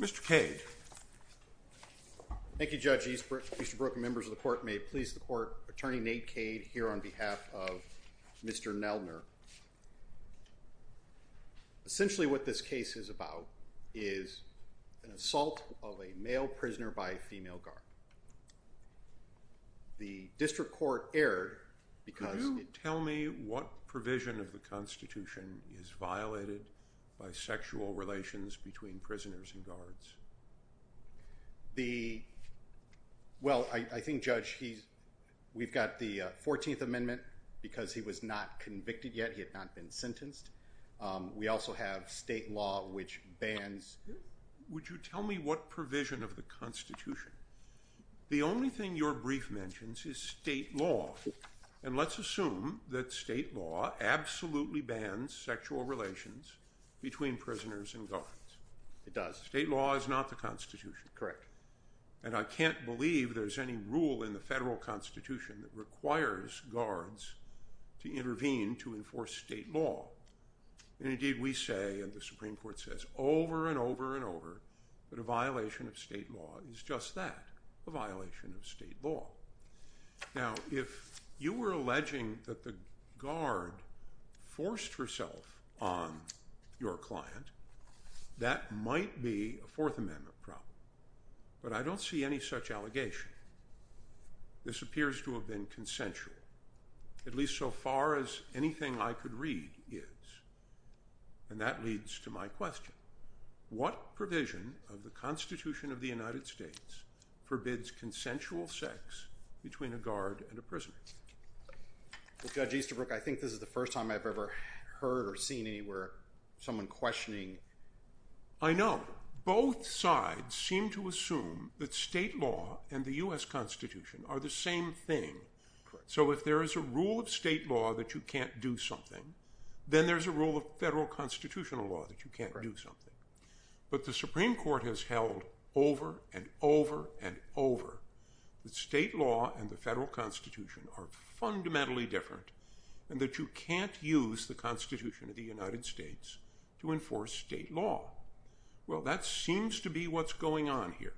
Mr. Cade. Thank you, Judge Easterbrook. Members of the Court, may it please the Court, Attorney Nate Cade here on behalf of Mr. Noeldner. Essentially what this case is about is an assault of a male prisoner by a female guard. The District Court erred because... Could you tell me what provision of the Constitution is violated by sexual relations between prisoners and guards? Well, I think, Judge, we've got the 14th Amendment because he was not convicted yet. He had not been sentenced. We also have state law which bans... Would you tell me what provision of the Constitution? The only thing your brief mentions is state law. And let's assume that state law absolutely bans sexual relations between prisoners and guards. It does. State law is not the Constitution. Correct. And I can't believe there's any rule in the federal Constitution that requires guards to intervene to enforce state law. Indeed, we say, and the Supreme Court says over and over and over, that a violation of state law is just that, a violation of state law. Now, if you were alleging that the guard forced herself on your client, that might be a Fourth Amendment problem. But I don't see any such allegation. This appears to have been consensual, at least so far as anything I could read is. And that leads to my question. What provision of the Constitution of the United States forbids consensual sex between a guard and a prisoner? Well, Judge Easterbrook, I think this is the first time I've ever heard or seen anywhere someone questioning... I know. Both sides seem to assume that state law and the U.S. Constitution are the same thing. So if there is a rule of state law that you can't do something, then there's a rule of federal constitutional law that you can't do something. But the Supreme Court has held over and over and over that state law and the federal Constitution are fundamentally different, and that you can't use the Constitution of the United States to enforce state law. Well, that seems to be what's going on here,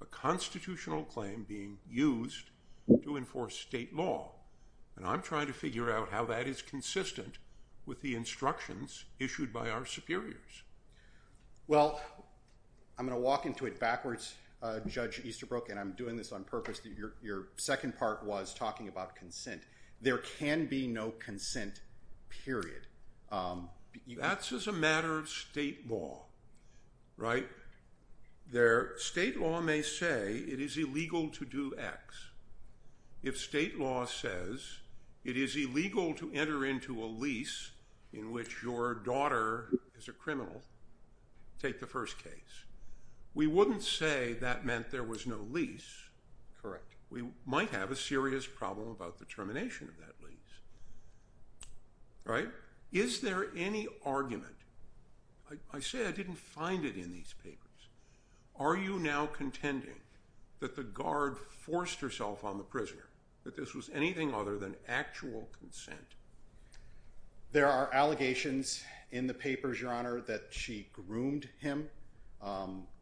a constitutional claim being used to enforce state law. And I'm trying to figure out how that is consistent with the instructions issued by our superiors. Well, I'm going to walk into it backwards, Judge Easterbrook, and I'm doing this on purpose. Your second part was talking about consent. There can be no consent, period. That's as a matter of state law, right? State law may say it is illegal to do X. If state law says it is illegal to enter into a lease in which your daughter is a criminal, take the first case. We wouldn't say that meant there was no lease. Correct. We might have a serious problem about the termination of that lease. Right? Is there any argument? I say I didn't find it in these papers. Are you now contending that the guard forced herself on the prisoner, that this was anything other than actual consent? There are allegations in the papers, Your Honor, that she groomed him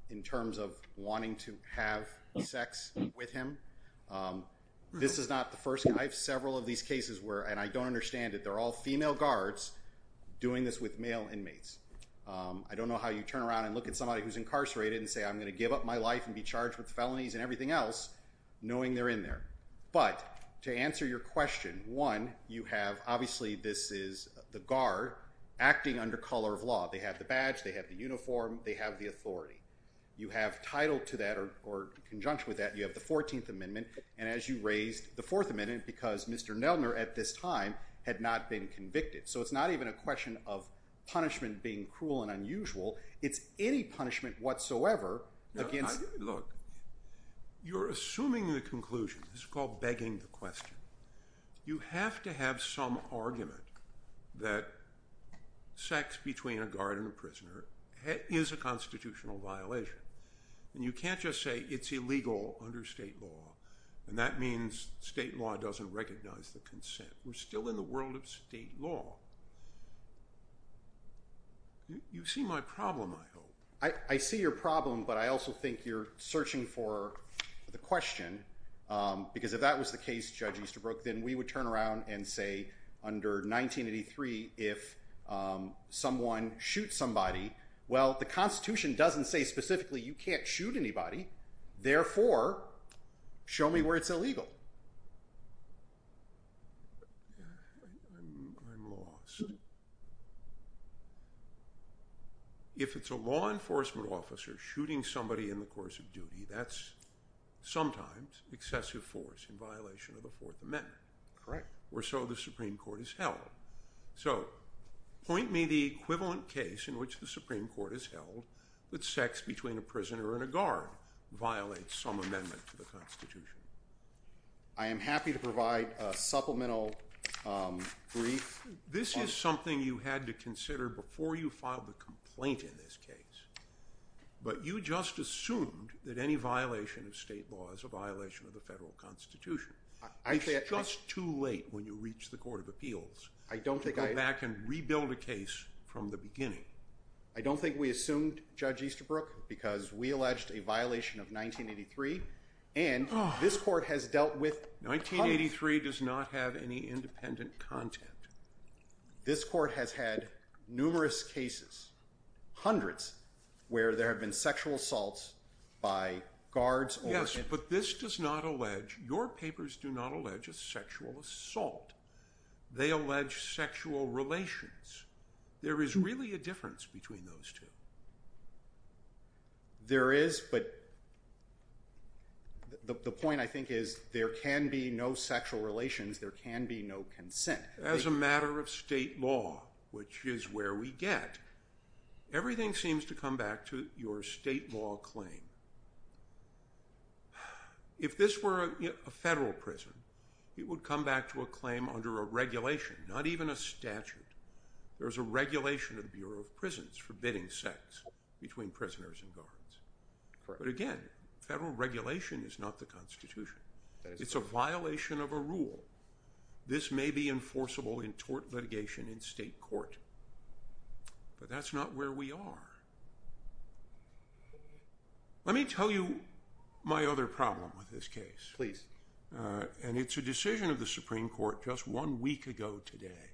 in terms of wanting to have sex with him. This is not the first. I have several of these cases where, and I don't understand it, they're all female guards doing this with male inmates. I don't know how you turn around and look at somebody who's incarcerated and say, I'm going to give up my life and be charged with felonies and everything else, knowing they're in there. But to answer your question, one, you have obviously this is the guard acting under color of law. They have the badge. They have the uniform. They have the authority. You have title to that or conjunction with that. You have the 14th Amendment. And as you raised the 4th Amendment, because Mr. Nelner at this time had not been convicted. So it's not even a question of punishment being cruel and unusual. It's any punishment whatsoever against. Look, you're assuming the conclusion. This is called begging the question. You have to have some argument that sex between a guard and a prisoner is a constitutional violation. And you can't just say it's illegal under state law. And that means state law doesn't recognize the consent. We're still in the world of state law. You see my problem, I hope. I see your problem, but I also think you're searching for the question. Because if that was the case, Judge Easterbrook, then we would turn around and say under 1983, if someone shoots somebody, well, the Constitution doesn't say specifically you can't shoot anybody. Therefore, show me where it's illegal. I'm lost. If it's a law enforcement officer shooting somebody in the course of duty, that's sometimes excessive force in violation of the 4th Amendment. Or so the Supreme Court has held. So point me the equivalent case in which the Supreme Court has held that sex between a prisoner and a guard violates some amendment to the Constitution. I am happy to provide a supplemental brief. This is something you had to consider before you filed a complaint in this case. But you just assumed that any violation of state law is a violation of the federal Constitution. It's just too late when you reach the Court of Appeals to go back and rebuild a case from the beginning. I don't think we assumed, Judge Easterbrook, because we alleged a violation of 1983. And this Court has dealt with... 1983 does not have any independent content. This Court has had numerous cases, hundreds, where there have been sexual assaults by guards. Yes, but this does not allege, your papers do not allege a sexual assault. They allege sexual relations. There is really a difference between those two. There is, but the point, I think, is there can be no sexual relations, there can be no consent. As a matter of state law, which is where we get, everything seems to come back to your state law claim. If this were a federal prison, it would come back to a claim under a regulation, not even a statute. There is a regulation of the Bureau of Prisons for bidding sex between prisoners and guards. But again, federal regulation is not the Constitution. It's a violation of a rule. This may be enforceable in tort litigation in state court, but that's not where we are. Let me tell you my other problem with this case. Please. And it's a decision of the Supreme Court just one week ago today,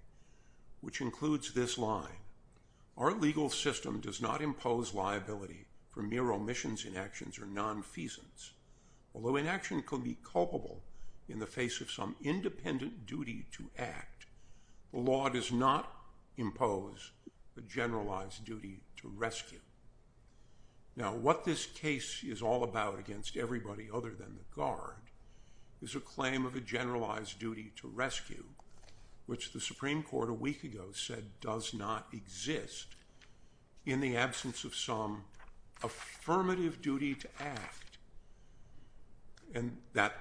which includes this line. Our legal system does not impose liability for mere omissions, inactions, or nonfeasance. Although inaction could be culpable in the face of some independent duty to act, the law does not impose a generalized duty to rescue. Now, what this case is all about against everybody other than the guard is a claim of a generalized duty to rescue, which the Supreme Court a week ago said does not exist in the absence of some affirmative duty to act. And that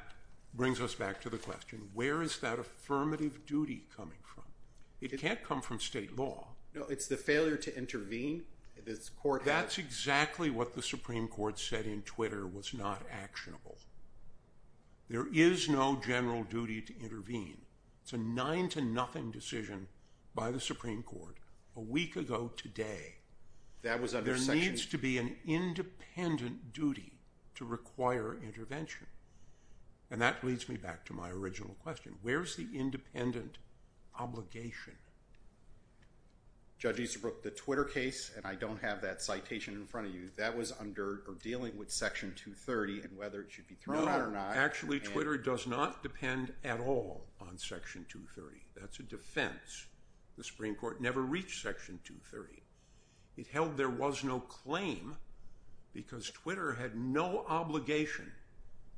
brings us back to the question, where is that affirmative duty coming from? It can't come from state law. No, it's the failure to intervene. That's exactly what the Supreme Court said in Twitter was not actionable. There is no general duty to intervene. It's a nine-to-nothing decision by the Supreme Court a week ago today. There needs to be an independent duty to require intervention. And that leads me back to my original question. Where is the independent obligation? Judge Easterbrook, the Twitter case, and I don't have that citation in front of you, that was under dealing with Section 230 and whether it should be thrown out or not. Actually, Twitter does not depend at all on Section 230. That's a defense. The Supreme Court never reached Section 230. It held there was no claim because Twitter had no obligation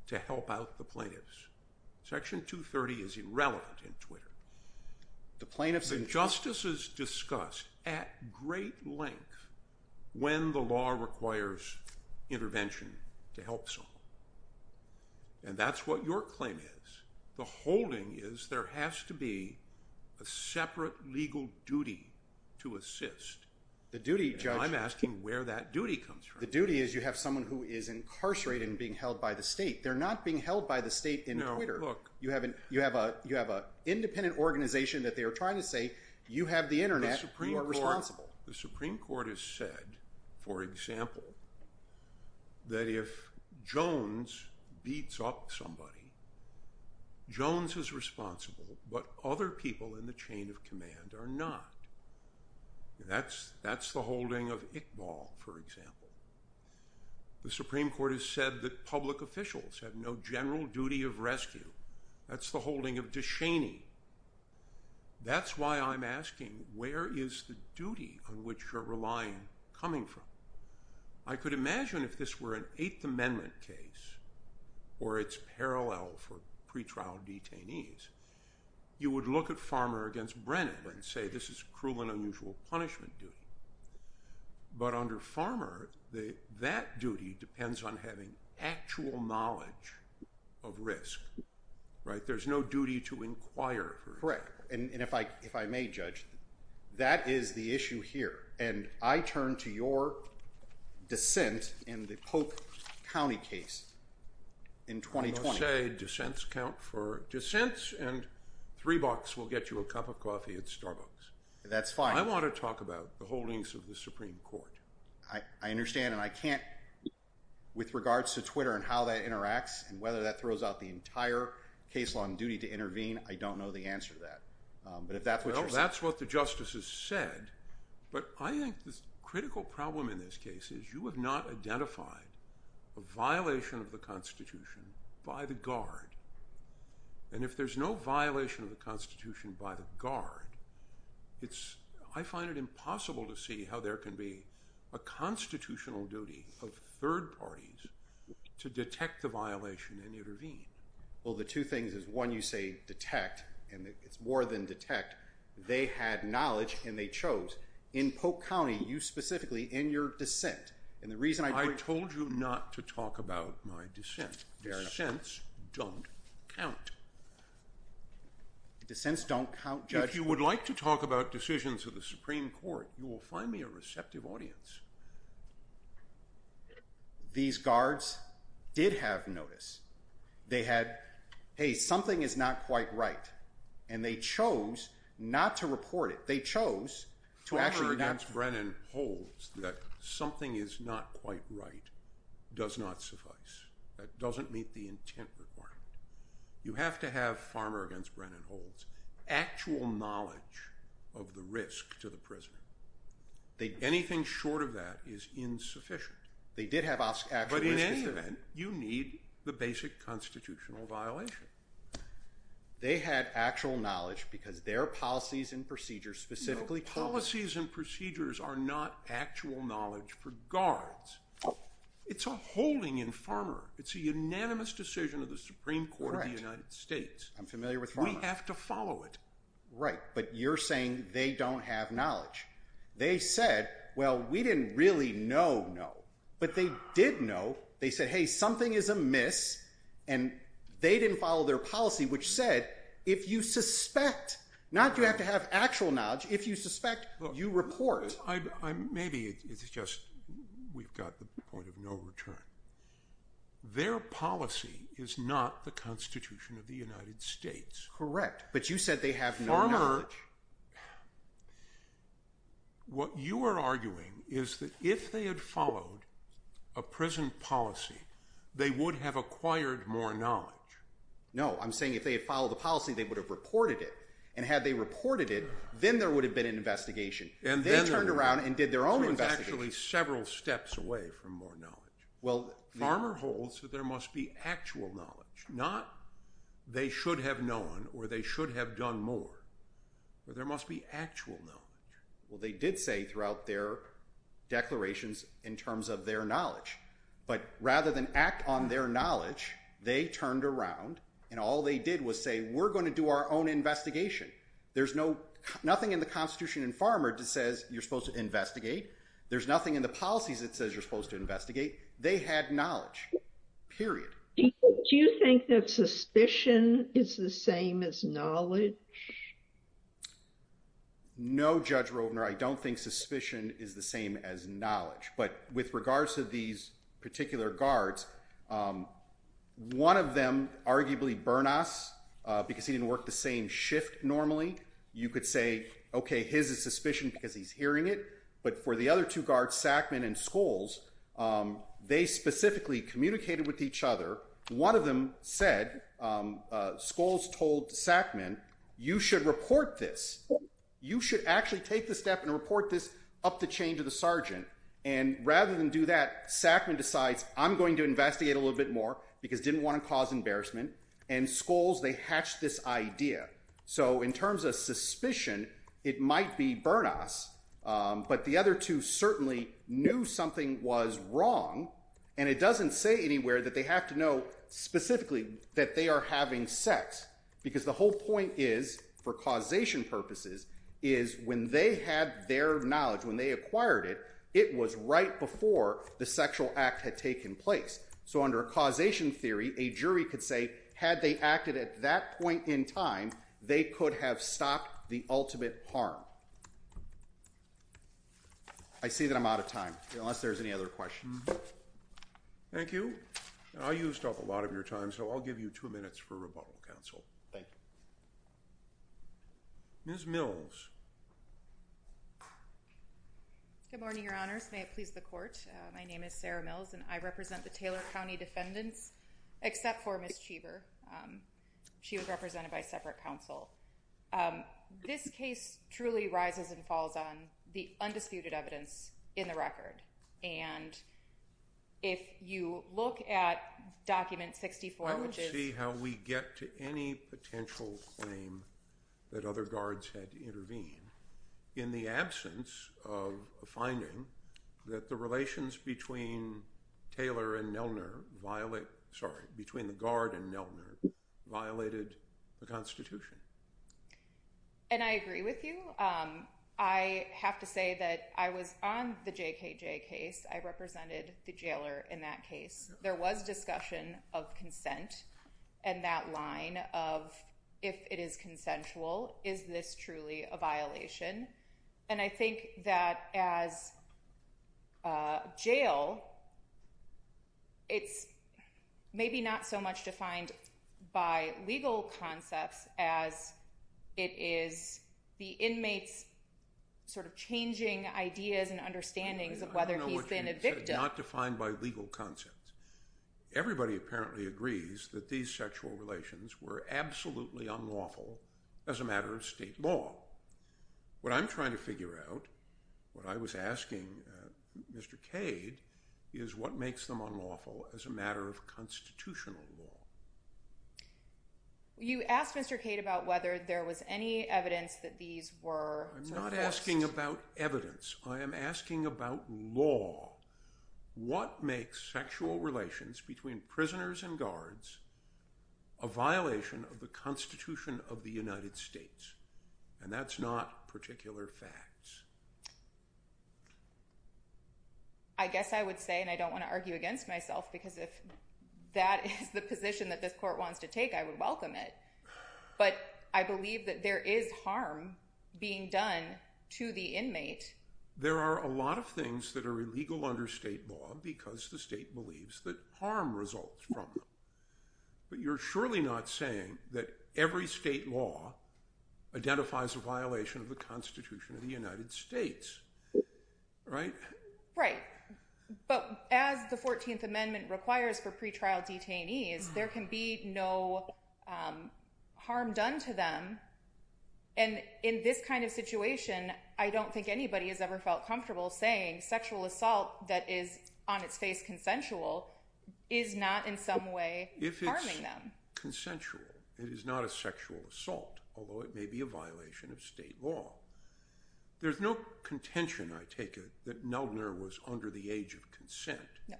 to help out the plaintiffs. Section 230 is irrelevant in Twitter. The justices discuss at great length when the law requires intervention to help someone. And that's what your claim is. The holding is there has to be a separate legal duty to assist. I'm asking where that duty comes from. The duty is you have someone who is incarcerated and being held by the state. They're not being held by the state in Twitter. You have an independent organization that they are trying to say you have the Internet. You are responsible. The Supreme Court has said, for example, that if Jones beats up somebody, Jones is responsible, but other people in the chain of command are not. That's the holding of Iqbal, for example. The Supreme Court has said that public officials have no general duty of rescue. That's the holding of DeShaney. That's why I'm asking where is the duty on which you're relying coming from? I could imagine if this were an Eighth Amendment case or it's parallel for pretrial detainees, you would look at Farmer against Brennan and say this is cruel and unusual punishment duty. But under Farmer, that duty depends on having actual knowledge of risk. There's no duty to inquire. Correct. And if I may, Judge, that is the issue here. And I turn to your dissent in the Polk County case in 2020. I'm going to say dissents count for dissents and three bucks will get you a cup of coffee at Starbucks. That's fine. I want to talk about the holdings of the Supreme Court. I understand, and I can't with regards to Twitter and how that interacts and whether that throws out the entire case law and duty to intervene. I don't know the answer to that. Well, that's what the justices said. But I think the critical problem in this case is you have not identified a violation of the Constitution by the guard. And if there's no violation of the Constitution by the guard, I find it impossible to see how there can be a constitutional duty of third parties to detect the violation and intervene. Well, the two things is, one, you say detect, and it's more than detect. They had knowledge and they chose. In Polk County, you specifically, in your dissent, and the reason I told you not to talk about my dissent. Dissents don't count. Dissents don't count, Judge? If you would like to talk about decisions of the Supreme Court, you will find me a receptive audience. These guards did have notice. They had, hey, something is not quite right, and they chose not to report it. They chose to actually not. As Brennan holds, that something is not quite right does not suffice. That doesn't meet the intent requirement. You have to have, Farmer against Brennan holds, actual knowledge of the risk to the prisoner. Anything short of that is insufficient. They did have actual risk. But in any event, you need the basic constitutional violation. They had actual knowledge because their policies and procedures specifically told them. Policies and procedures are not actual knowledge for guards. It's a holding in Farmer. It's a unanimous decision of the Supreme Court of the United States. I'm familiar with Farmer. We have to follow it. Right, but you're saying they don't have knowledge. They said, well, we didn't really know, no. But they did know. They said, hey, something is amiss. And they didn't follow their policy, which said, if you suspect, not you have to have actual knowledge. If you suspect, you report. Maybe it's just we've got the point of no return. Their policy is not the Constitution of the United States. Correct, but you said they have no knowledge. Farmer, what you are arguing is that if they had followed a prison policy, they would have acquired more knowledge. No, I'm saying if they had followed the policy, they would have reported it. And had they reported it, then there would have been an investigation. They turned around and did their own investigation. So it's actually several steps away from more knowledge. Farmer holds that there must be actual knowledge, not they should have known or they should have done more. There must be actual knowledge. Well, they did say throughout their declarations in terms of their knowledge. But rather than act on their knowledge, they turned around and all they did was say, we're going to do our own investigation. There's no nothing in the Constitution and farmer says you're supposed to investigate. There's nothing in the policies that says you're supposed to investigate. They had knowledge, period. Do you think that suspicion is the same as knowledge? No, Judge Rovner, I don't think suspicion is the same as knowledge. But with regards to these particular guards, one of them arguably burn us because he didn't work the same shift normally. You could say, OK, his suspicion because he's hearing it. But for the other two guards, Sackman and Scholes, they specifically communicated with each other. One of them said Scholes told Sackman, you should report this. You should actually take the step and report this up the chain to the sergeant. And rather than do that, Sackman decides I'm going to investigate a little bit more because didn't want to cause embarrassment. And Scholes, they hatched this idea. So in terms of suspicion, it might be burn us. But the other two certainly knew something was wrong. And it doesn't say anywhere that they have to know specifically that they are having sex. Because the whole point is, for causation purposes, is when they had their knowledge, when they acquired it, it was right before the sexual act had taken place. So under a causation theory, a jury could say had they acted at that point in time, they could have stopped the ultimate harm. I see that I'm out of time, unless there's any other questions. Thank you. I used up a lot of your time, so I'll give you two minutes for rebuttal, counsel. Thank you. Ms. Mills. Good morning, Your Honors. May it please the court. My name is Sarah Mills, and I represent the Taylor County defendants, except for Ms. Cheever. She was represented by separate counsel. This case truly rises and falls on the undisputed evidence in the record. And if you look at Document 64, which is… I would see how we get to any potential claim that other guards had to intervene in the absence of a finding that the relations between Taylor and Nelner violate – sorry – between the guard and Nelner violated the Constitution. And I agree with you. I have to say that I was on the JKJ case. I represented the jailer in that case. There was discussion of consent, and that line of if it is consensual, is this truly a violation? And I think that as jail, it's maybe not so much defined by legal concepts as it is the inmate's sort of changing ideas and understandings of whether he's been a victim. I don't know what you said. Not defined by legal concepts. Everybody apparently agrees that these sexual relations were absolutely unlawful as a matter of state law. What I'm trying to figure out, what I was asking Mr. Cade, is what makes them unlawful as a matter of constitutional law. You asked Mr. Cade about whether there was any evidence that these were… I'm not asking about evidence. I am asking about law. What makes sexual relations between prisoners and guards a violation of the Constitution of the United States? And that's not particular facts. I guess I would say, and I don't want to argue against myself, because if that is the position that this court wants to take, I would welcome it. But I believe that there is harm being done to the inmate. There are a lot of things that are illegal under state law because the state believes that harm results from them. But you're surely not saying that every state law identifies a violation of the Constitution of the United States, right? Right. But as the 14th Amendment requires for pretrial detainees, there can be no harm done to them. And in this kind of situation, I don't think anybody has ever felt comfortable saying sexual assault that is on its face consensual is not in some way harming them. If it's consensual, it is not a sexual assault, although it may be a violation of state law. There's no contention, I take it, that Neldener was under the age of consent. No.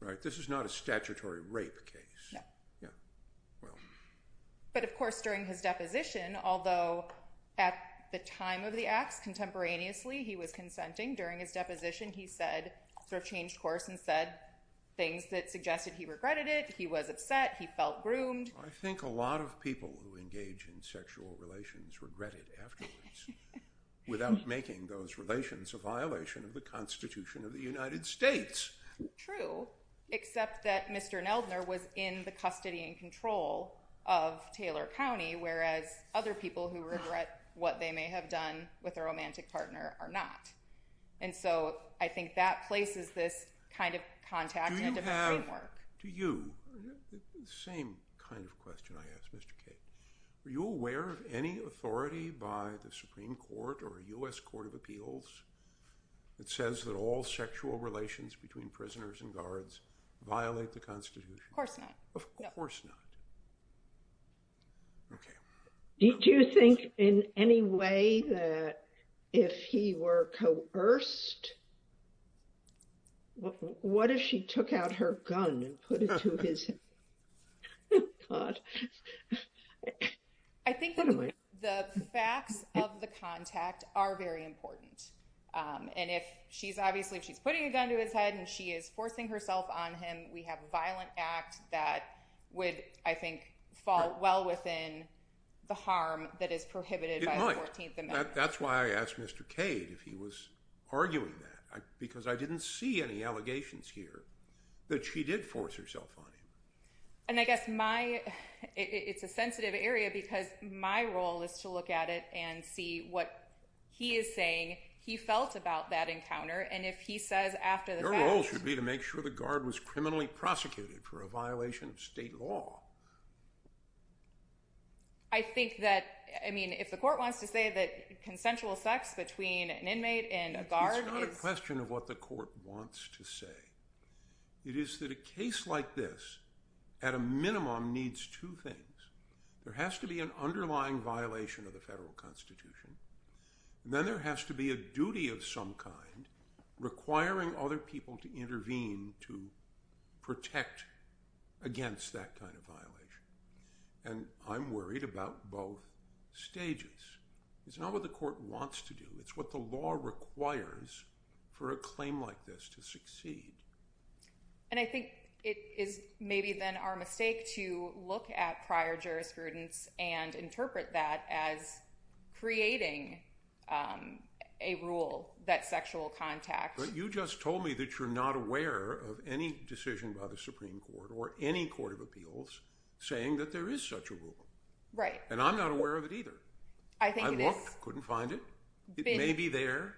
Right? This is not a statutory rape case. No. Yeah. Well… But, of course, during his deposition, although at the time of the acts contemporaneously he was consenting, during his deposition he sort of changed course and said things that suggested he regretted it, he was upset, he felt groomed. I think a lot of people who engage in sexual relations regret it afterwards without making those relations a violation of the Constitution of the United States. True, except that Mr. Neldener was in the custody and control of Taylor County, whereas other people who regret what they may have done with their romantic partner are not. And so I think that places this kind of contact in a different framework. Do you have… Do you? The same kind of question I ask Mr. Cate. Are you aware of any authority by the Supreme Court or U.S. Court of Appeals that says that all sexual relations between prisoners and guards violate the Constitution? Of course not. Of course not. Okay. Do you think in any way that if he were coerced… What if she took out her gun and put it to his… I think the facts of the contact are very important. And if she's obviously… If she's putting a gun to his head and she is forcing herself on him, we have a violent act that would, I think, fall well within the harm that is prohibited by the 14th Amendment. It might. That's why I asked Mr. Cate if he was arguing that, because I didn't see any allegations here that she did force herself on him. And I guess my… It's a sensitive area because my role is to look at it and see what he is saying he felt about that encounter, and if he says after the fact… Your role should be to make sure the guard was criminally prosecuted for a violation of state law. I think that, I mean, if the court wants to say that consensual sex between an inmate and a guard is… It's not a question of what the court wants to say. It is that a case like this, at a minimum, needs two things. There has to be an underlying violation of the federal constitution, and then there has to be a duty of some kind requiring other people to intervene to protect against that kind of violation. And I'm worried about both stages. It's not what the court wants to do. It's what the law requires for a claim like this to succeed. And I think it is maybe then our mistake to look at prior jurisprudence and interpret that as creating a rule that sexual contact… But you just told me that you're not aware of any decision by the Supreme Court or any court of appeals saying that there is such a rule. Right. And I'm not aware of it either. I think it is… I looked, couldn't find it. It may be there.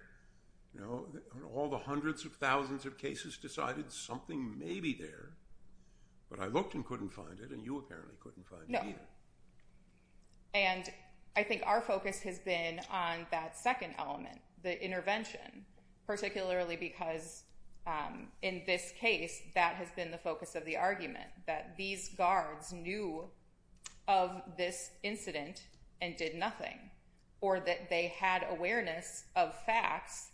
All the hundreds of thousands of cases decided something may be there. But I looked and couldn't find it, and you apparently couldn't find it either. No. And I think our focus has been on that second element, the intervention. Particularly because in this case, that has been the focus of the argument, that these guards knew of this incident and did nothing. Or that they had awareness of facts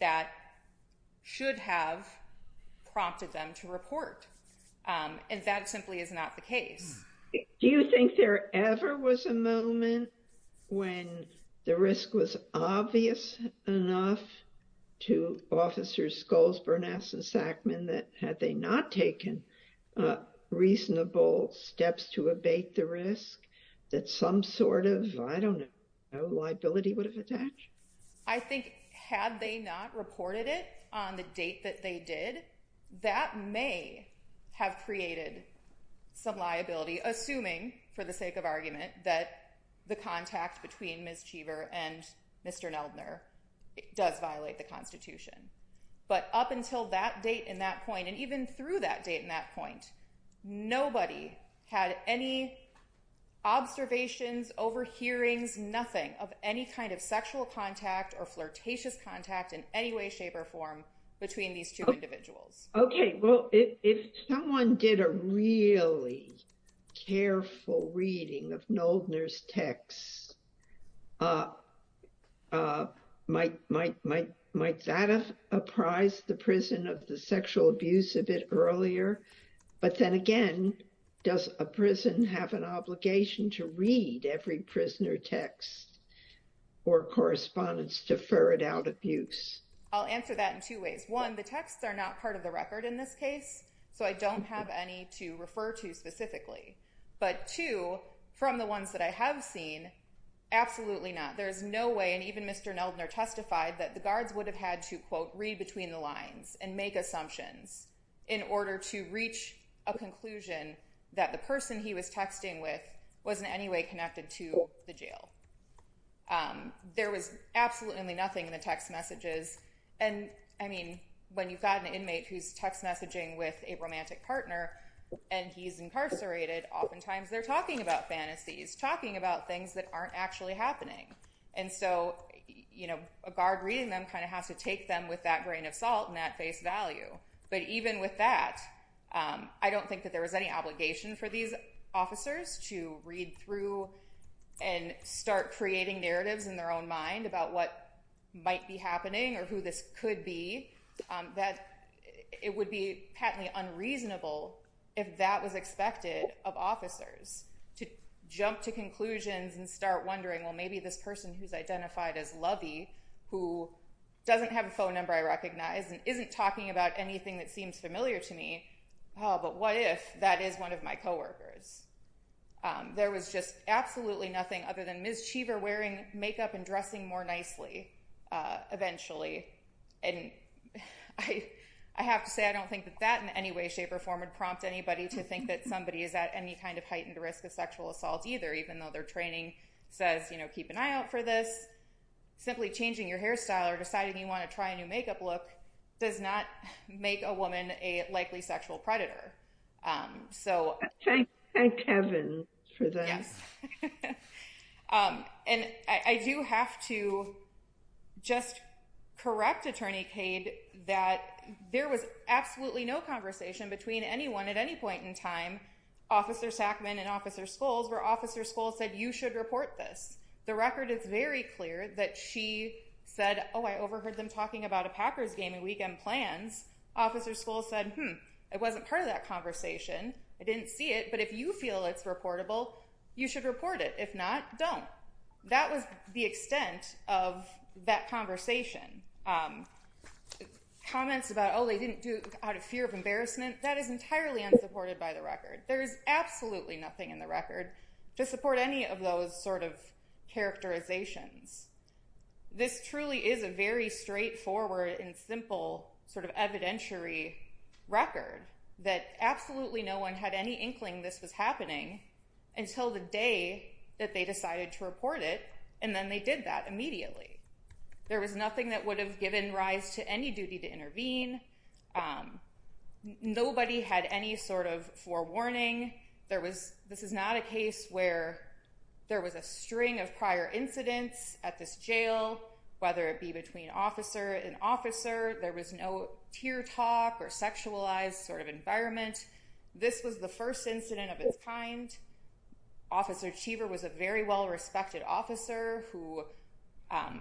that should have prompted them to report. And that simply is not the case. Do you think there ever was a moment when the risk was obvious enough to Officers Scholes, Bernasse, and Sackman that had they not taken reasonable steps to abate the risk, that some sort of, I don't know, liability would have attached? I think had they not reported it on the date that they did, that may have created some liability. Assuming, for the sake of argument, that the contact between Ms. Cheever and Mr. Neldner does violate the Constitution. But up until that date and that point, and even through that date and that point, nobody had any observations, overhearings, nothing of any kind of sexual contact or flirtatious contact in any way, shape, or form between these two individuals. Okay, well, if someone did a really careful reading of Neldner's texts, might that have apprised the prison of the sexual abuse of it earlier? But then again, does a prison have an obligation to read every prisoner text or correspondence to ferret out abuse? I'll answer that in two ways. One, the texts are not part of the record in this case, so I don't have any to refer to specifically. But two, from the ones that I have seen, absolutely not. There is no way, and even Mr. Neldner testified, that the guards would have had to, quote, read between the lines and make assumptions in order to reach a conclusion that the person he was texting with was in any way connected to the jail. There was absolutely nothing in the text messages. And, I mean, when you've got an inmate who's text messaging with a romantic partner and he's incarcerated, oftentimes they're talking about fantasies, talking about things that aren't actually happening. And so, you know, a guard reading them kind of has to take them with that grain of salt and that face value. But even with that, I don't think that there was any obligation for these officers to read through and start creating narratives in their own mind about what might be happening or who this could be. That it would be patently unreasonable, if that was expected of officers, to jump to conclusions and start wondering, well, maybe this person who's identified as Lovey, who doesn't have a phone number I recognize and isn't talking about anything that seems familiar to me, oh, but what if that is one of my coworkers? There was just absolutely nothing other than Ms. Cheever wearing makeup and dressing more nicely, eventually. And I have to say, I don't think that that in any way, shape, or form would prompt anybody to think that somebody is at any kind of heightened risk of sexual assault either, even though their training says, you know, keep an eye out for this. Simply changing your hairstyle or deciding you want to try a new makeup look does not make a woman a likely sexual predator. Say Kevin for them. And I do have to just correct Attorney Cade that there was absolutely no conversation between anyone at any point in time, Officer Sackman and Officer Scholes, where Officer Scholes said, you should report this. The record is very clear that she said, oh, I overheard them talking about a Packers game and weekend plans. Officer Scholes said, hmm, it wasn't part of that conversation. I didn't see it, but if you feel it's reportable, you should report it. If not, don't. That was the extent of that conversation. Comments about, oh, they didn't do it out of fear of embarrassment, that is entirely unsupported by the record. There is absolutely nothing in the record to support any of those sort of characterizations. This truly is a very straightforward and simple sort of evidentiary record that absolutely no one had any inkling this was happening until the day that they decided to report it, and then they did that immediately. There was nothing that would have given rise to any duty to intervene. Nobody had any sort of forewarning. This is not a case where there was a string of prior incidents at this jail, whether it be between officer and officer. There was no tear talk or sexualized sort of environment. This was the first incident of its kind. Officer Cheever was a very well-respected officer who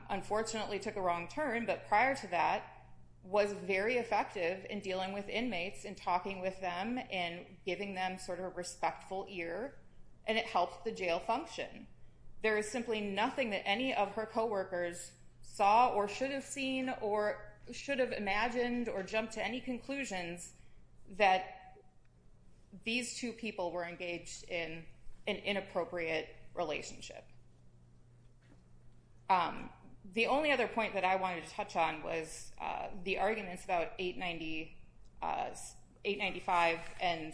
unfortunately took a wrong turn, but prior to that was very effective in dealing with inmates and talking with them and giving them sort of a respectful ear, and it helped the jail function. There is simply nothing that any of her coworkers saw or should have seen or should have imagined or jumped to any conclusions that these two people were engaged in an inappropriate relationship. The only other point that I wanted to touch on was the arguments about 895 and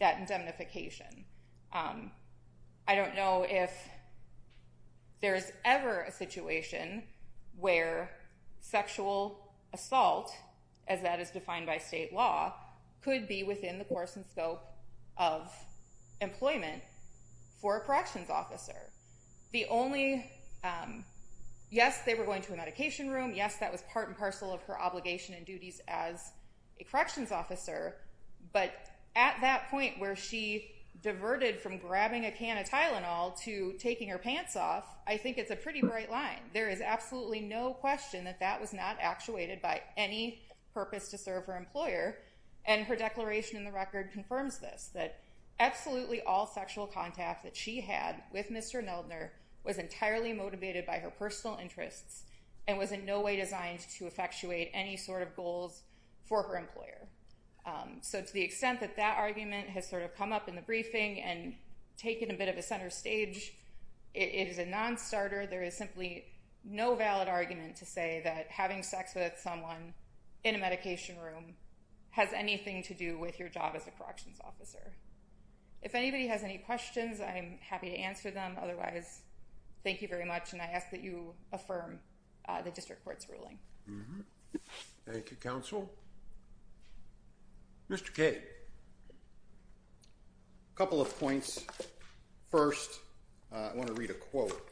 that indemnification. I don't know if there is ever a situation where sexual assault, as that is defined by state law, could be within the course and scope of employment for a corrections officer. Yes, they were going to a medication room. Yes, that was part and parcel of her obligation and duties as a corrections officer, but at that point where she diverted from grabbing a can of Tylenol to taking her pants off, I think it's a pretty bright line. There is absolutely no question that that was not actuated by any purpose to serve her employer, and her declaration in the record confirms this, that absolutely all sexual contact that she had with Mr. Neldner was entirely motivated by her personal interests and was in no way designed to effectuate any sort of goals for her employer. So to the extent that that argument has sort of come up in the briefing and taken a bit of a center stage, it is a non-starter. There is simply no valid argument to say that having sex with someone in a medication room has anything to do with your job as a corrections officer. If anybody has any questions, I'm happy to answer them. Otherwise, thank you very much, and I ask that you affirm the district court's ruling. Thank you, counsel. Mr. Kaye. A couple of points. First, I want to read a quote.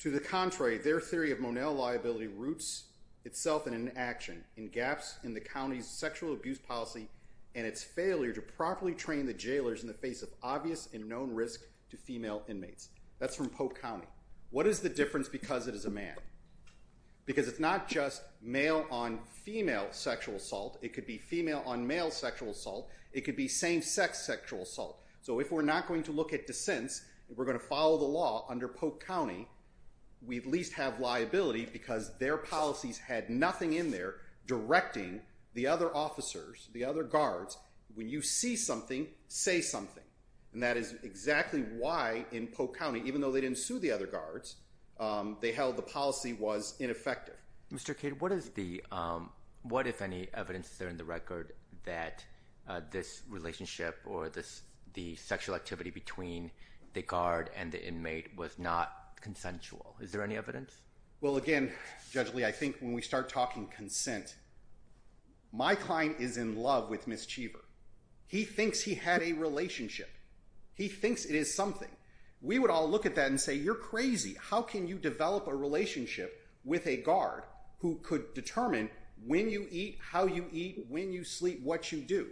To the contrary, their theory of Monell liability roots itself in an action, in gaps in the county's sexual abuse policy and its failure to properly train the jailers in the face of obvious and known risk to female inmates. That's from Pope County. What is the difference because it is a man? Because it's not just male-on-female sexual assault. It could be female-on-male sexual assault. It could be same-sex sexual assault. So if we're not going to look at dissents and we're going to follow the law under Pope County, we at least have liability because their policies had nothing in there directing the other officers, the other guards, when you see something, say something. And that is exactly why in Pope County, even though they didn't sue the other guards, they held the policy was ineffective. Mr. Kaye, what if any evidence is there in the record that this relationship or the sexual activity between the guard and the inmate was not consensual? Is there any evidence? Well, again, Judge Lee, I think when we start talking consent, my client is in love with Ms. Cheever. He thinks he had a relationship. He thinks it is something. We would all look at that and say, you're crazy. How can you develop a relationship with a guard who could determine when you eat, how you eat, when you sleep, what you do?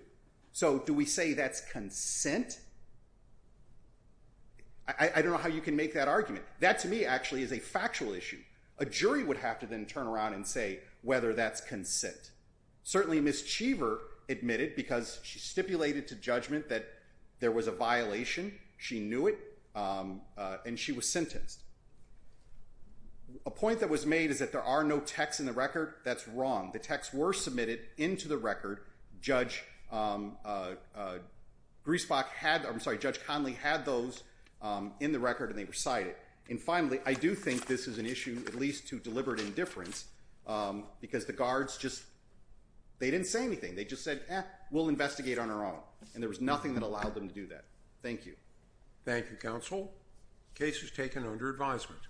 So do we say that's consent? I don't know how you can make that argument. That to me actually is a factual issue. A jury would have to then turn around and say whether that's consent. Certainly, Ms. Cheever admitted because she stipulated to judgment that there was a violation. She knew it. And she was sentenced. A point that was made is that there are no texts in the record. That's wrong. The texts were submitted into the record. Judge Griesbach had, I'm sorry, Judge Conley had those in the record and they were cited. And finally, I do think this is an issue at least to deliberate indifference because the guards just, they didn't say anything. They just said, eh, we'll investigate on our own. And there was nothing that allowed them to do that. Thank you. Thank you, counsel. Case is taken under advisement.